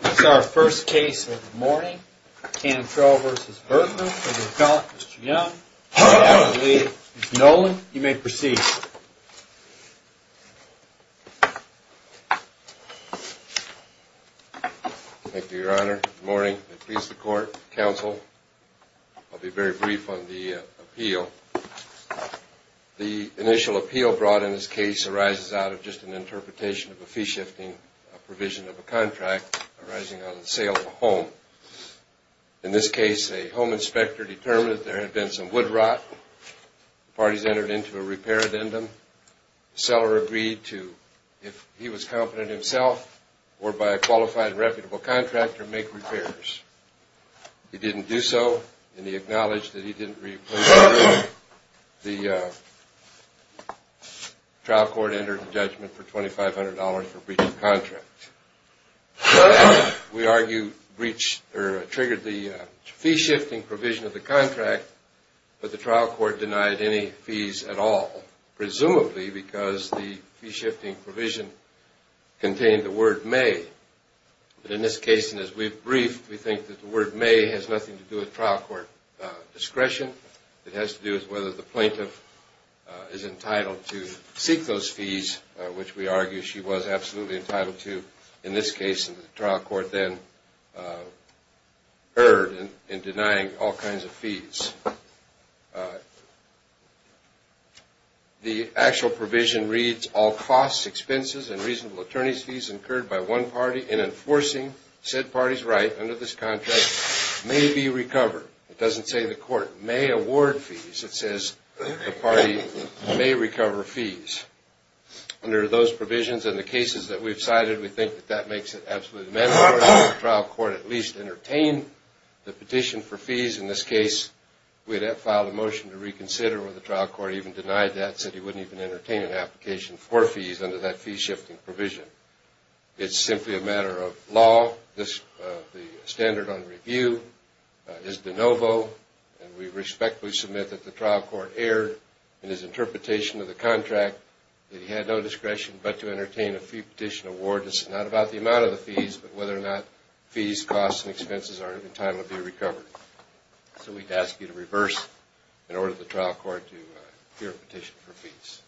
This is our first case of the morning. Cantrall v. Bergner. Mr. Young, Mr. Lee, Mr. Nolan, you may proceed. Thank you, Your Honor. Good morning. I please the court, counsel. I'll be very brief on the appeal. The initial appeal brought in this case arises out of just an interpretation of a fee-shifting provision of a contract arising out of the sale of a home. In this case, a home inspector determined that there had been some wood rot. The parties entered into a repair addendum. The seller agreed to, if he was confident himself or by a qualified and reputable contractor, make repairs. He didn't do so, and he acknowledged that he didn't replace the wood. The trial court entered the judgment for $2,500 for breach of contract. We argue breach triggered the fee-shifting provision of the contract, but the trial court denied any fees at all, presumably because the fee-shifting provision contained the word may. But in this case, and as we've briefed, we think that the word may has nothing to do with trial court discretion. It has to do with whether the plaintiff is entitled to seek those fees, which we argue she was absolutely entitled to in this case. And the trial court then erred in denying all kinds of fees. The actual provision reads, all costs, expenses, and reasonable attorney's fees incurred by one party in enforcing said party's right under this contract may be recovered. It doesn't say the court may award fees. It says the party may recover fees. Under those provisions and the cases that we've cited, we think that that makes it absolutely mandatory that the trial court at least entertain the petition for fees. In this case, we had filed a motion to reconsider where the trial court even denied that, said he wouldn't even entertain an application for fees under that fee-shifting provision. It's simply a matter of law. The standard on review is de novo, and we respectfully submit that the trial court erred in his interpretation of the contract, that he had no discretion but to entertain a fee-petition award. It's not about the amount of the fees, but whether or not fees, costs, and expenses are in time to be recovered. So we'd ask you to reverse and order the trial court to hear a petition for fees.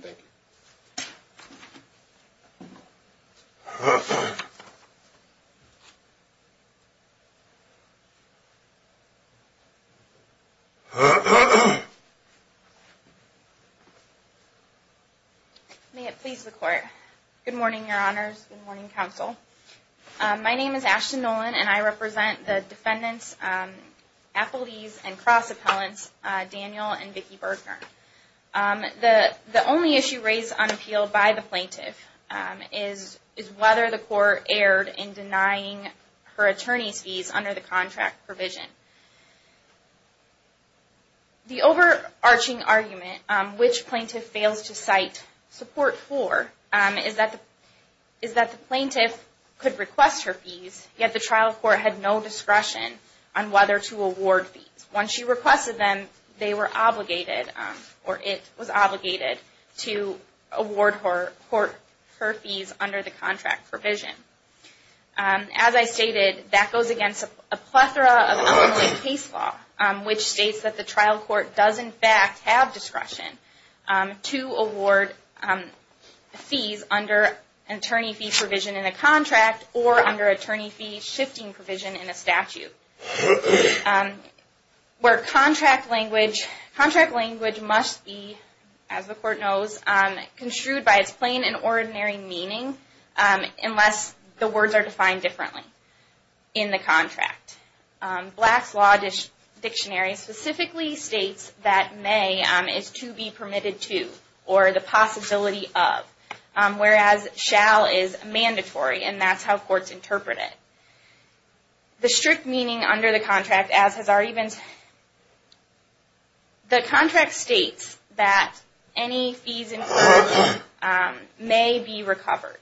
Thank you. May it please the court. Good morning, your honors. Good morning, counsel. My name is Ashton Nolan, and I represent the defendants, appellees, and cross-appellants, Daniel and Vicki Bergner. The only issue raised on appeal by the plaintiff is whether the court erred in denying her attorney's fees under the contract provision. The overarching argument which plaintiff fails to cite support for is that the plaintiff could request her fees, yet the trial court had no discretion on whether to award fees. Once she requested them, they were obligated, or it was obligated, to award her fees under the contract provision. As I stated, that goes against a plethora of unlawful case law, which states that the trial court does in fact have discretion to award fees under attorney fee provision in a contract, or under attorney fee shifting provision in a statute. Where contract language must be, as the court knows, construed by its plain and ordinary meaning, unless the words are defined differently in the contract. Black's Law Dictionary specifically states that may is to be permitted to, or the possibility of, whereas shall is mandatory, and that's how courts interpret it. The strict meaning under the contract states that any fees incurred may be recovered.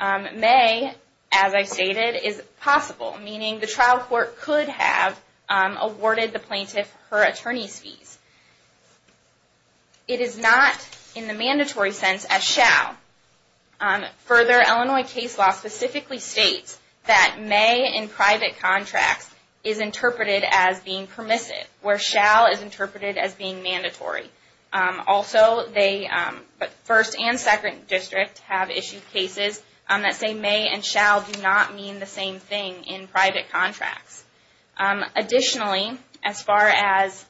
May, as I stated, is possible, meaning the trial court could have awarded the plaintiff her attorney's fees. It is not in the mandatory sense as shall. Further, Illinois case law specifically states that may in private contracts is interpreted as being permissive, whereas shall is interpreted as being mandatory. Also, the 1st and 2nd District have issued cases that say may and shall do not mean the same thing in private contracts. Additionally, as far as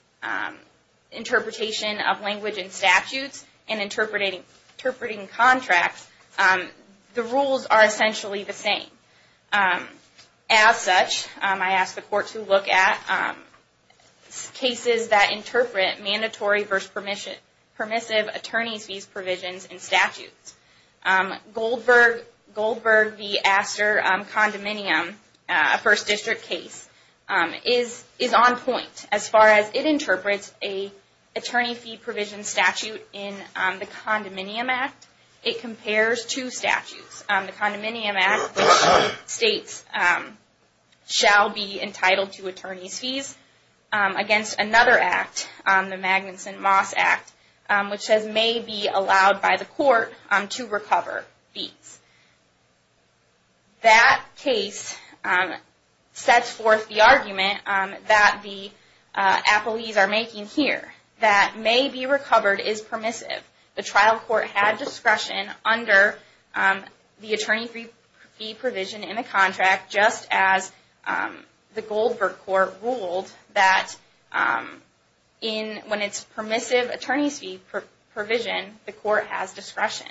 interpretation of language in statutes and interpreting contracts, the rules are essentially the same. As such, I ask the court to look at cases that interpret mandatory versus permissive attorney's fees provisions in statutes. Goldberg v. Astor Condominium, a 1st District case, is on point as far as it interprets an attorney fee provision statute in the Condominium Act. It compares two statutes, the Condominium Act, which states shall be entitled to attorney's fees, against another act, the Magnuson-Moss Act, which says may be allowed by the court to recover fees. That case sets forth the argument that the appellees are making here, that may be recovered is permissive. The trial court had discretion under the attorney fee provision in the contract, just as the Goldberg court ruled that when it's permissive attorney's fee provision, the court has discretion.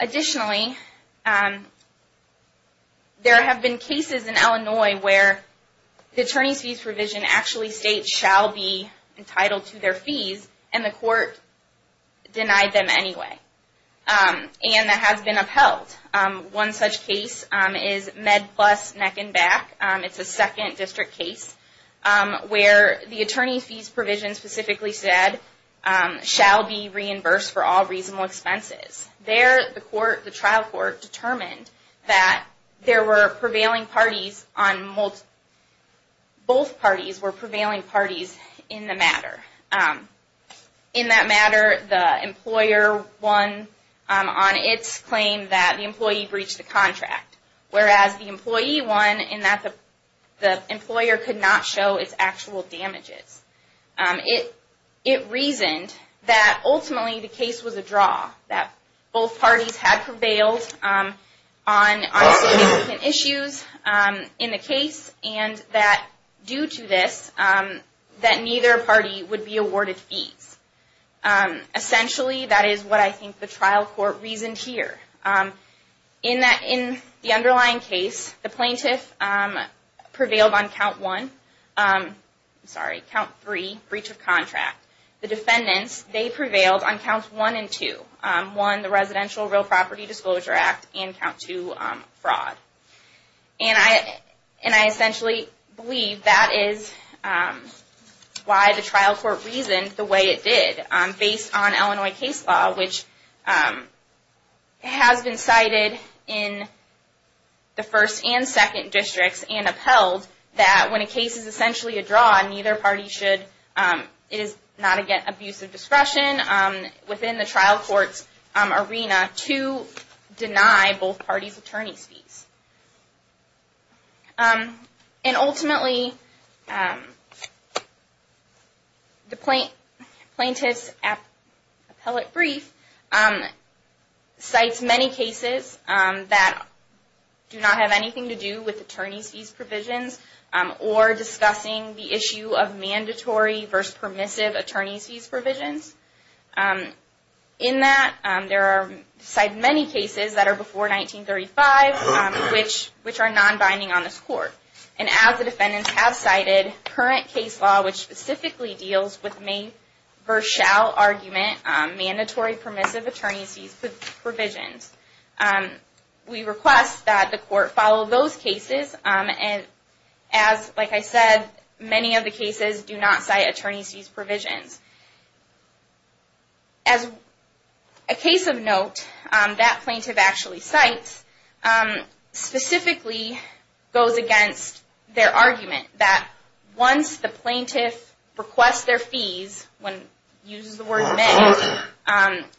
Additionally, there have been cases in Illinois where the attorney's fees provision actually states shall be entitled to their fees, and the court denied them anyway. And that has been upheld. One such case is Med Plus Neck and Back, it's a 2nd District case, where the attorney's fees provision specifically said shall be reimbursed for all reasonable expenses. There, the trial court determined that both parties were prevailing parties in the matter. In that matter, the employer won on its claim that the employee breached the contract, whereas the employee won in that the employer could not show its actual damages. It reasoned that ultimately the case was a draw, that both parties had prevailed on significant issues in the case, and that due to this, that neither party would be awarded fees. Essentially, that is what I think the trial court reasoned here. In the underlying case, the plaintiff prevailed on count 3, breach of contract. The defendants, they prevailed on counts 1 and 2. 1, the Residential Real Property Disclosure Act, and count 2, fraud. And I essentially believe that is why the trial court reasoned the way it did. Based on Illinois case law, which has been cited in the 1st and 2nd Districts, and upheld, that when a case is essentially a draw, neither party should, it is not an abuse of discretion within the trial court's arena to deny both parties' attorney's fees. And ultimately, the plaintiff's appellate brief cites many cases that do not have anything to do with attorney's fees provisions, or discussing the issue of mandatory versus permissive attorney's fees provisions. In that, there are many cases that are before 1935, which are non-binding on this court. And as the defendants have cited, current case law, which specifically deals with may versus shall argument, mandatory permissive attorney's fees provisions. We request that the court follow those cases, and as, like I said, many of the cases do not cite attorney's fees provisions. As a case of note, that plaintiff actually cites, specifically goes against their argument that once the plaintiff requests their fees, when uses the word meant,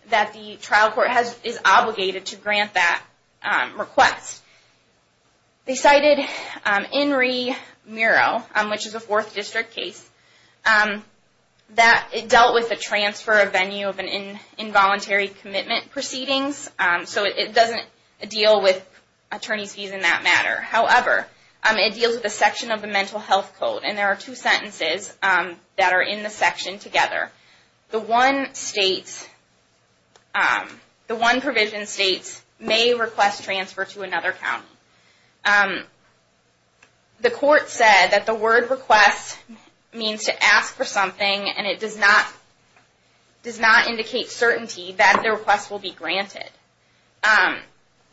that the trial court is obligated to grant that request. They cited Inree Murrow, which is a 4th District case, that dealt with the transfer of venue of an involuntary commitment proceedings, so it doesn't deal with attorney's fees in that matter. However, it deals with a section of the Mental Health Code, and there are two sentences that are in the section together. The one states, the one provision states, may request transfer to another county. The court said that the word request means to ask for something, and it does not indicate certainty that the request will be granted.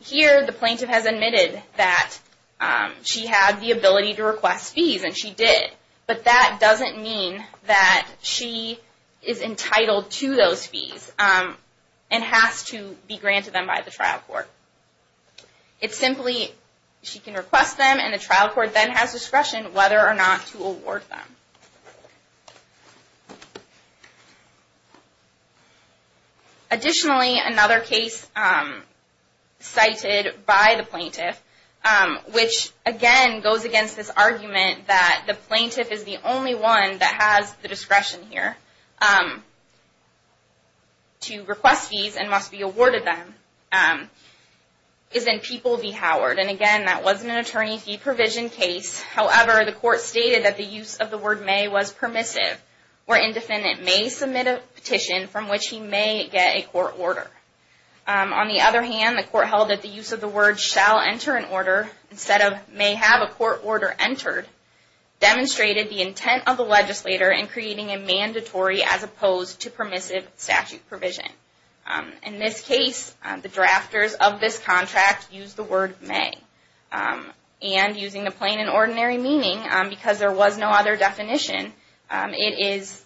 Here, the plaintiff has admitted that she had the ability to request fees, and she did. But that doesn't mean that she is entitled to those fees, and has to be granted them by the trial court. It's simply, she can request them, and the trial court then has discretion whether or not to award them. Additionally, another case cited by the plaintiff, which again goes against this argument that the plaintiff is the only one that has the discretion here to request fees and must be awarded them, is in People v. Howard. And again, that wasn't an attorney fee provision case. However, the court stated that the use of the word may was permissive, where an indefendent may submit a petition from which he may get a court order. On the other hand, the court held that the use of the word shall enter an order, instead of may have a court order entered, demonstrated the intent of the legislator in creating a mandatory as opposed to permissive statute provision. In this case, the drafters of this contract used the word may. And using the plain and ordinary meaning, because there was no other definition, it is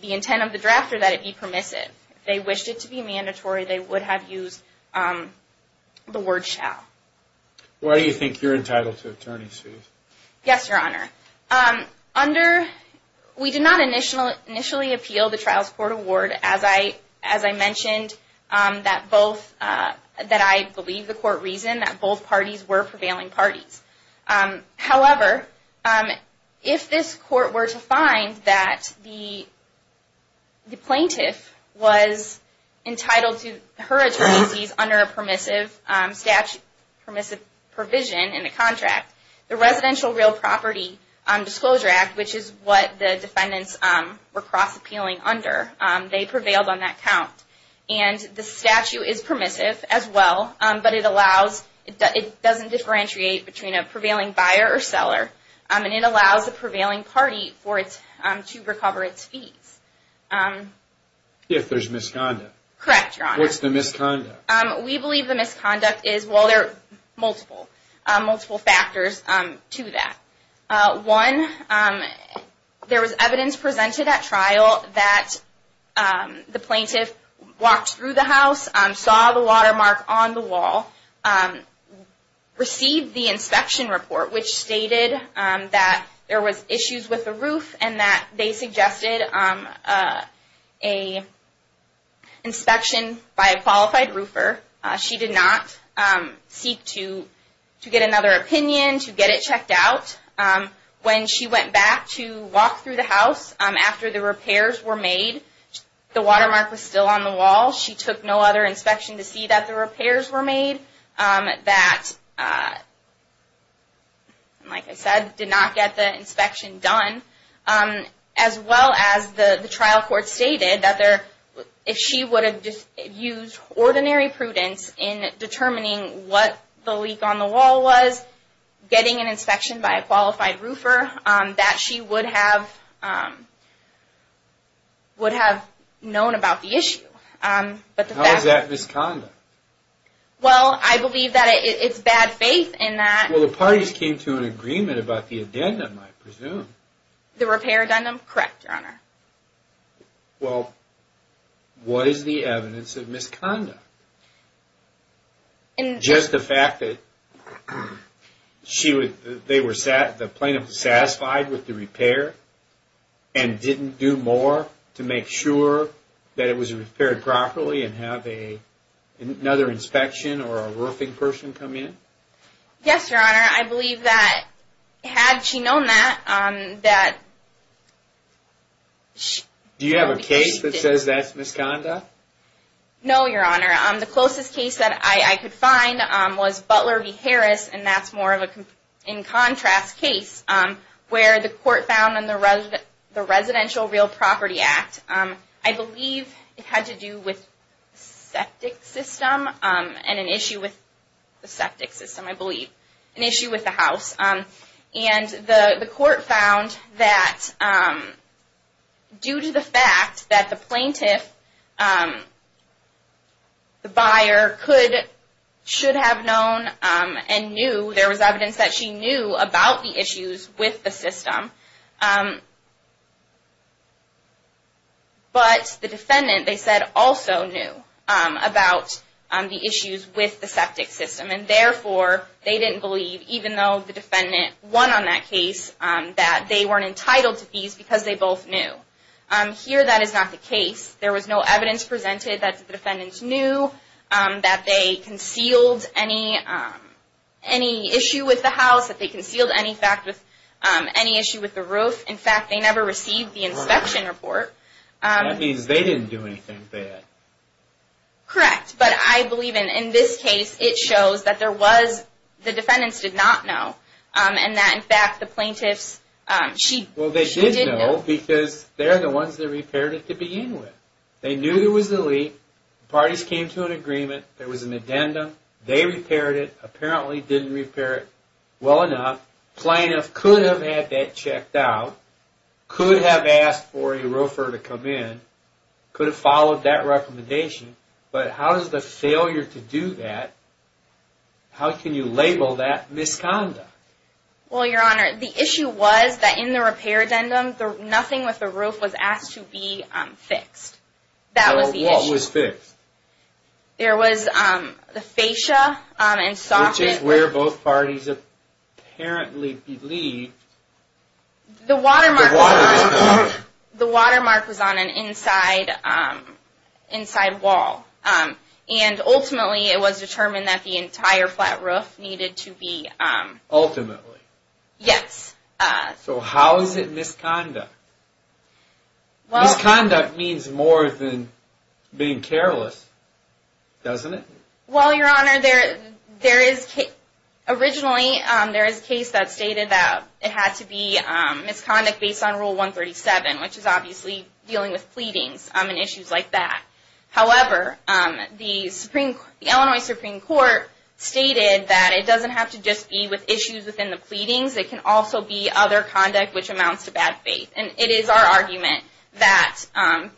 the intent of the drafter that it be permissive. If they wished it to be mandatory, they would have used the word shall. Why do you think you're entitled to attorney fees? Yes, Your Honor. We did not initially appeal the trials court award, as I mentioned, that I believe the court reasoned that both parties were prevailing parties. However, if this court were to find that the plaintiff was entitled to her attorney fees under a permissive statute, permissive provision in the contract, the Residential Real Property Disclosure Act, which is what the defendants were cross-appealing under, they prevailed on that count. And the statute is permissive as well, but it doesn't differentiate between a prevailing buyer or seller, and it allows the prevailing party to recover its fees. If there's misconduct. Correct, Your Honor. What's the misconduct? We believe the misconduct is, well, there are multiple factors to that. One, there was evidence presented at trial that the plaintiff walked through the house, saw the watermark on the wall, received the inspection report, which stated that there was issues with the roof and that they suggested an inspection by a qualified roofer. She did not seek to get another opinion, to get it checked out. When she went back to walk through the house after the repairs were made, the watermark was still on the wall. She took no other inspection to see that the repairs were made, that, like I said, did not get the inspection done, as well as the trial court stated that if she would have used ordinary prudence in determining what the leak on the wall was, getting an inspection by a qualified roofer, that she would have known about the issue. How is that misconduct? Well, I believe that it's bad faith in that... Well, the parties came to an agreement about the addendum, I presume. The repair addendum? Correct, Your Honor. Well, what is the evidence of misconduct? Just the fact that the plaintiff was satisfied with the repair and didn't do more to make sure that it was repaired properly and have another inspection or a roofing person come in? Yes, Your Honor. I believe that had she known that... Do you have a case that says that's misconduct? No, Your Honor. The closest case that I could find was Butler v. Harris, and that's more of a in contrast case, where the court found in the Residential Real Property Act, I believe it had to do with the septic system and an issue with the septic system, I believe, an issue with the house. And the court found that due to the fact that the plaintiff, the buyer, should have known and knew, there was evidence that she knew about the issues with the system, but the defendant, they said, also knew about the issues with the septic system. And therefore, they didn't believe, even though the defendant won on that case, that they weren't entitled to these because they both knew. Here, that is not the case. There was no evidence presented that the defendants knew that they concealed any issue with the house, that they concealed any issue with the roof. In fact, they never received the inspection report. That means they didn't do anything bad. Correct, but I believe in this case, it shows that the defendants did not know, and that, in fact, the plaintiffs, she didn't know. Well, they did know because they're the ones that repaired it to begin with. They knew there was a leak. The parties came to an agreement. There was an addendum. They repaired it. Apparently, didn't repair it well enough. The plaintiff could have had that checked out, could have asked for a roofer to come in, could have followed that recommendation, but how does the failure to do that, how can you label that misconduct? Well, Your Honor, the issue was that in the repair addendum, nothing with the roof was asked to be fixed. That was the issue. So, what was fixed? There was the fascia and sockets. Which is where both parties apparently believed. The watermark was on an inside wall, and ultimately, it was determined that the entire flat roof needed to be... Ultimately? Yes. So, how is it misconduct? Well... Misconduct means more than being careless, doesn't it? Well, Your Honor, there is... Originally, there is a case that stated that it had to be misconduct based on Rule 137, which is obviously dealing with pleadings and issues like that. However, the Illinois Supreme Court stated that it doesn't have to just be with issues within the pleadings. It can also be other conduct which amounts to bad faith. And it is our argument that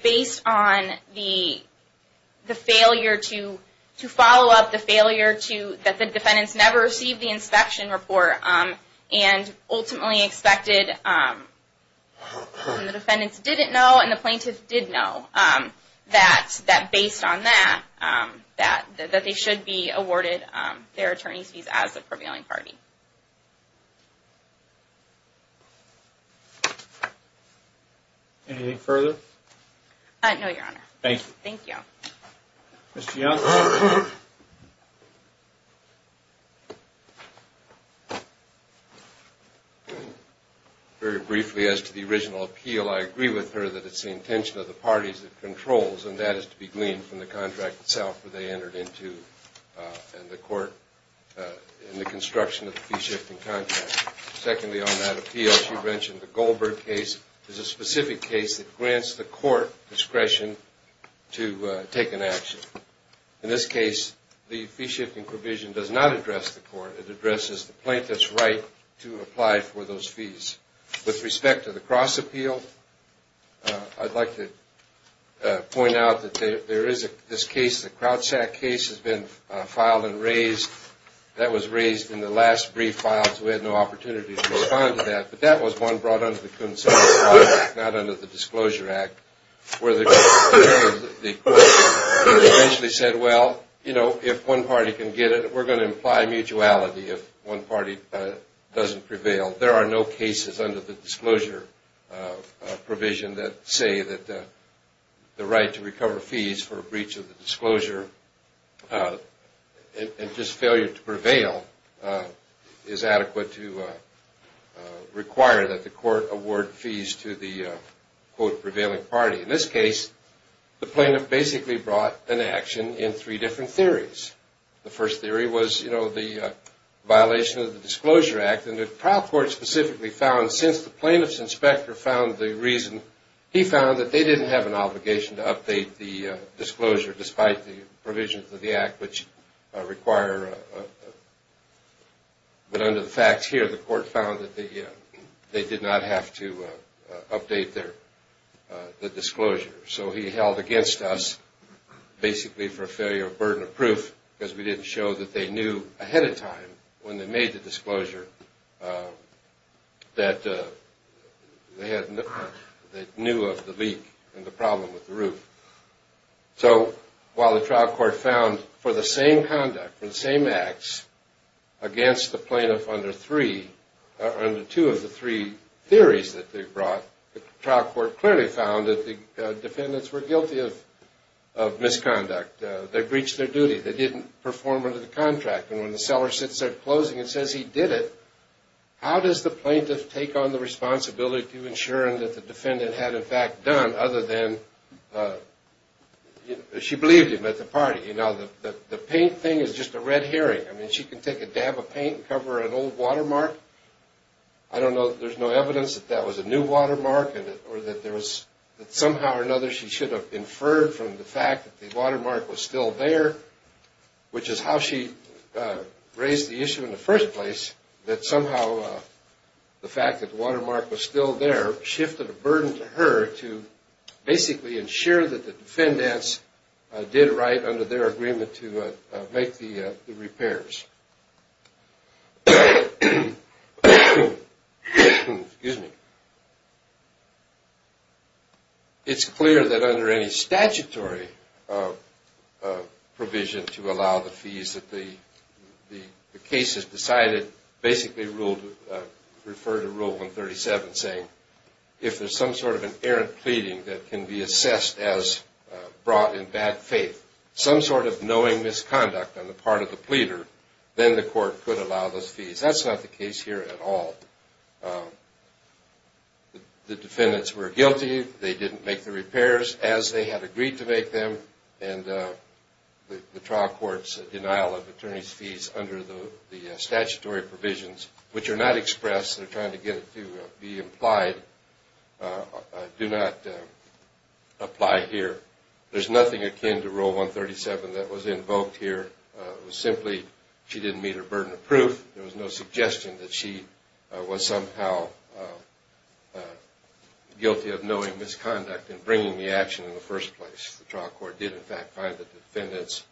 based on the failure to follow up, the failure that the defendants never received the inspection report, and ultimately expected when the defendants didn't know and the plaintiffs did know, that based on that, that they should be awarded their attorney's fees as the prevailing party. Anything further? No, Your Honor. Thank you. Thank you. Mr. Young? Very briefly, as to the original appeal, I agree with her that it's the intention of the parties that controls, and that is to be gleaned from the contract itself where they entered into the court in the construction of the fee-shifting contract. Secondly, on that appeal, as you mentioned, the Goldberg case is a specific case that grants the court discretion to take an action. In this case, the fee-shifting provision does not address the court. It addresses the plaintiff's right to apply for those fees. With respect to the Cross appeal, I'd like to point out that there is this case, the Crowdsack case has been filed and raised. That was raised in the last brief file, so we had no opportunity to respond to that, but that was one brought under the Koons Act, not under the Disclosure Act, where the court eventually said, well, you know, if one party can get it, we're going to imply mutuality if one party doesn't prevail. There are no cases under the disclosure provision that say that the right to recover fees for a breach of the disclosure and just failure to prevail is adequate to require that the court award fees to the, quote, prevailing party. In this case, the plaintiff basically brought an action in three different theories. The first theory was, you know, the violation of the Disclosure Act, and the trial court specifically found since the plaintiff's inspector found the reason, he found that they didn't have an obligation to update the disclosure, despite the provisions of the act which require, but under the facts here, the court found that they did not have to update the disclosure, so he held against us basically for failure of burden of proof, because we didn't show that they knew ahead of time when they made the disclosure that they knew of the leak and the problem with the roof. So while the trial court found for the same conduct, for the same acts, against the plaintiff under two of the three theories that they brought, the trial court clearly found that the defendants were guilty of misconduct. They breached their duty. They didn't perform under the contract, and when the cellar sits there closing, it says he did it. How does the plaintiff take on the responsibility to ensure that the defendant had, in fact, done other than she believed him at the party? You know, the paint thing is just a red herring. I mean, she can take a dab of paint and cover an old watermark. I don't know if there's no evidence that that was a new watermark or that somehow or another she should have inferred from the fact that the watermark was still there, which is how she raised the issue in the first place, that somehow the fact that the watermark was still there shifted a burden to her to basically ensure that the defendants did right under their agreement to make the repairs. It's clear that under any statutory provision to allow the fees that the case has decided, basically referred to Rule 137 saying if there's some sort of an errant pleading that can be assessed as brought in bad faith, some sort of knowing misconduct on the part of the pleader, then the court could allow those fees. That's not the case here at all. The defendants were guilty. They didn't make the repairs as they had agreed to make them, and the trial court's denial of attorney's fees under the statutory provisions, which are not expressed, they're trying to get it to be implied, do not apply here. There's nothing akin to Rule 137 that was invoked here. It was simply she didn't meet her burden of proof. There was no suggestion that she was somehow guilty of knowing misconduct and bringing the action in the first place. The trial court did, in fact, find that the defendants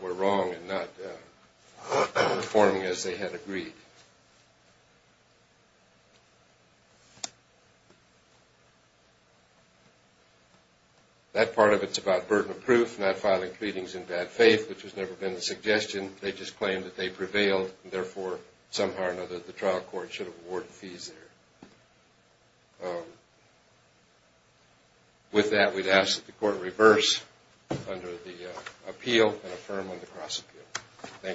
were wrong and not performing as they had agreed. That part of it's about burden of proof, not filing pleadings in bad faith, which has never been the suggestion. They just claimed that they prevailed, and therefore somehow or another the trial court should have awarded fees there. With that, we'd ask that the court reverse under the appeal and affirm on the cross appeal. Thank you.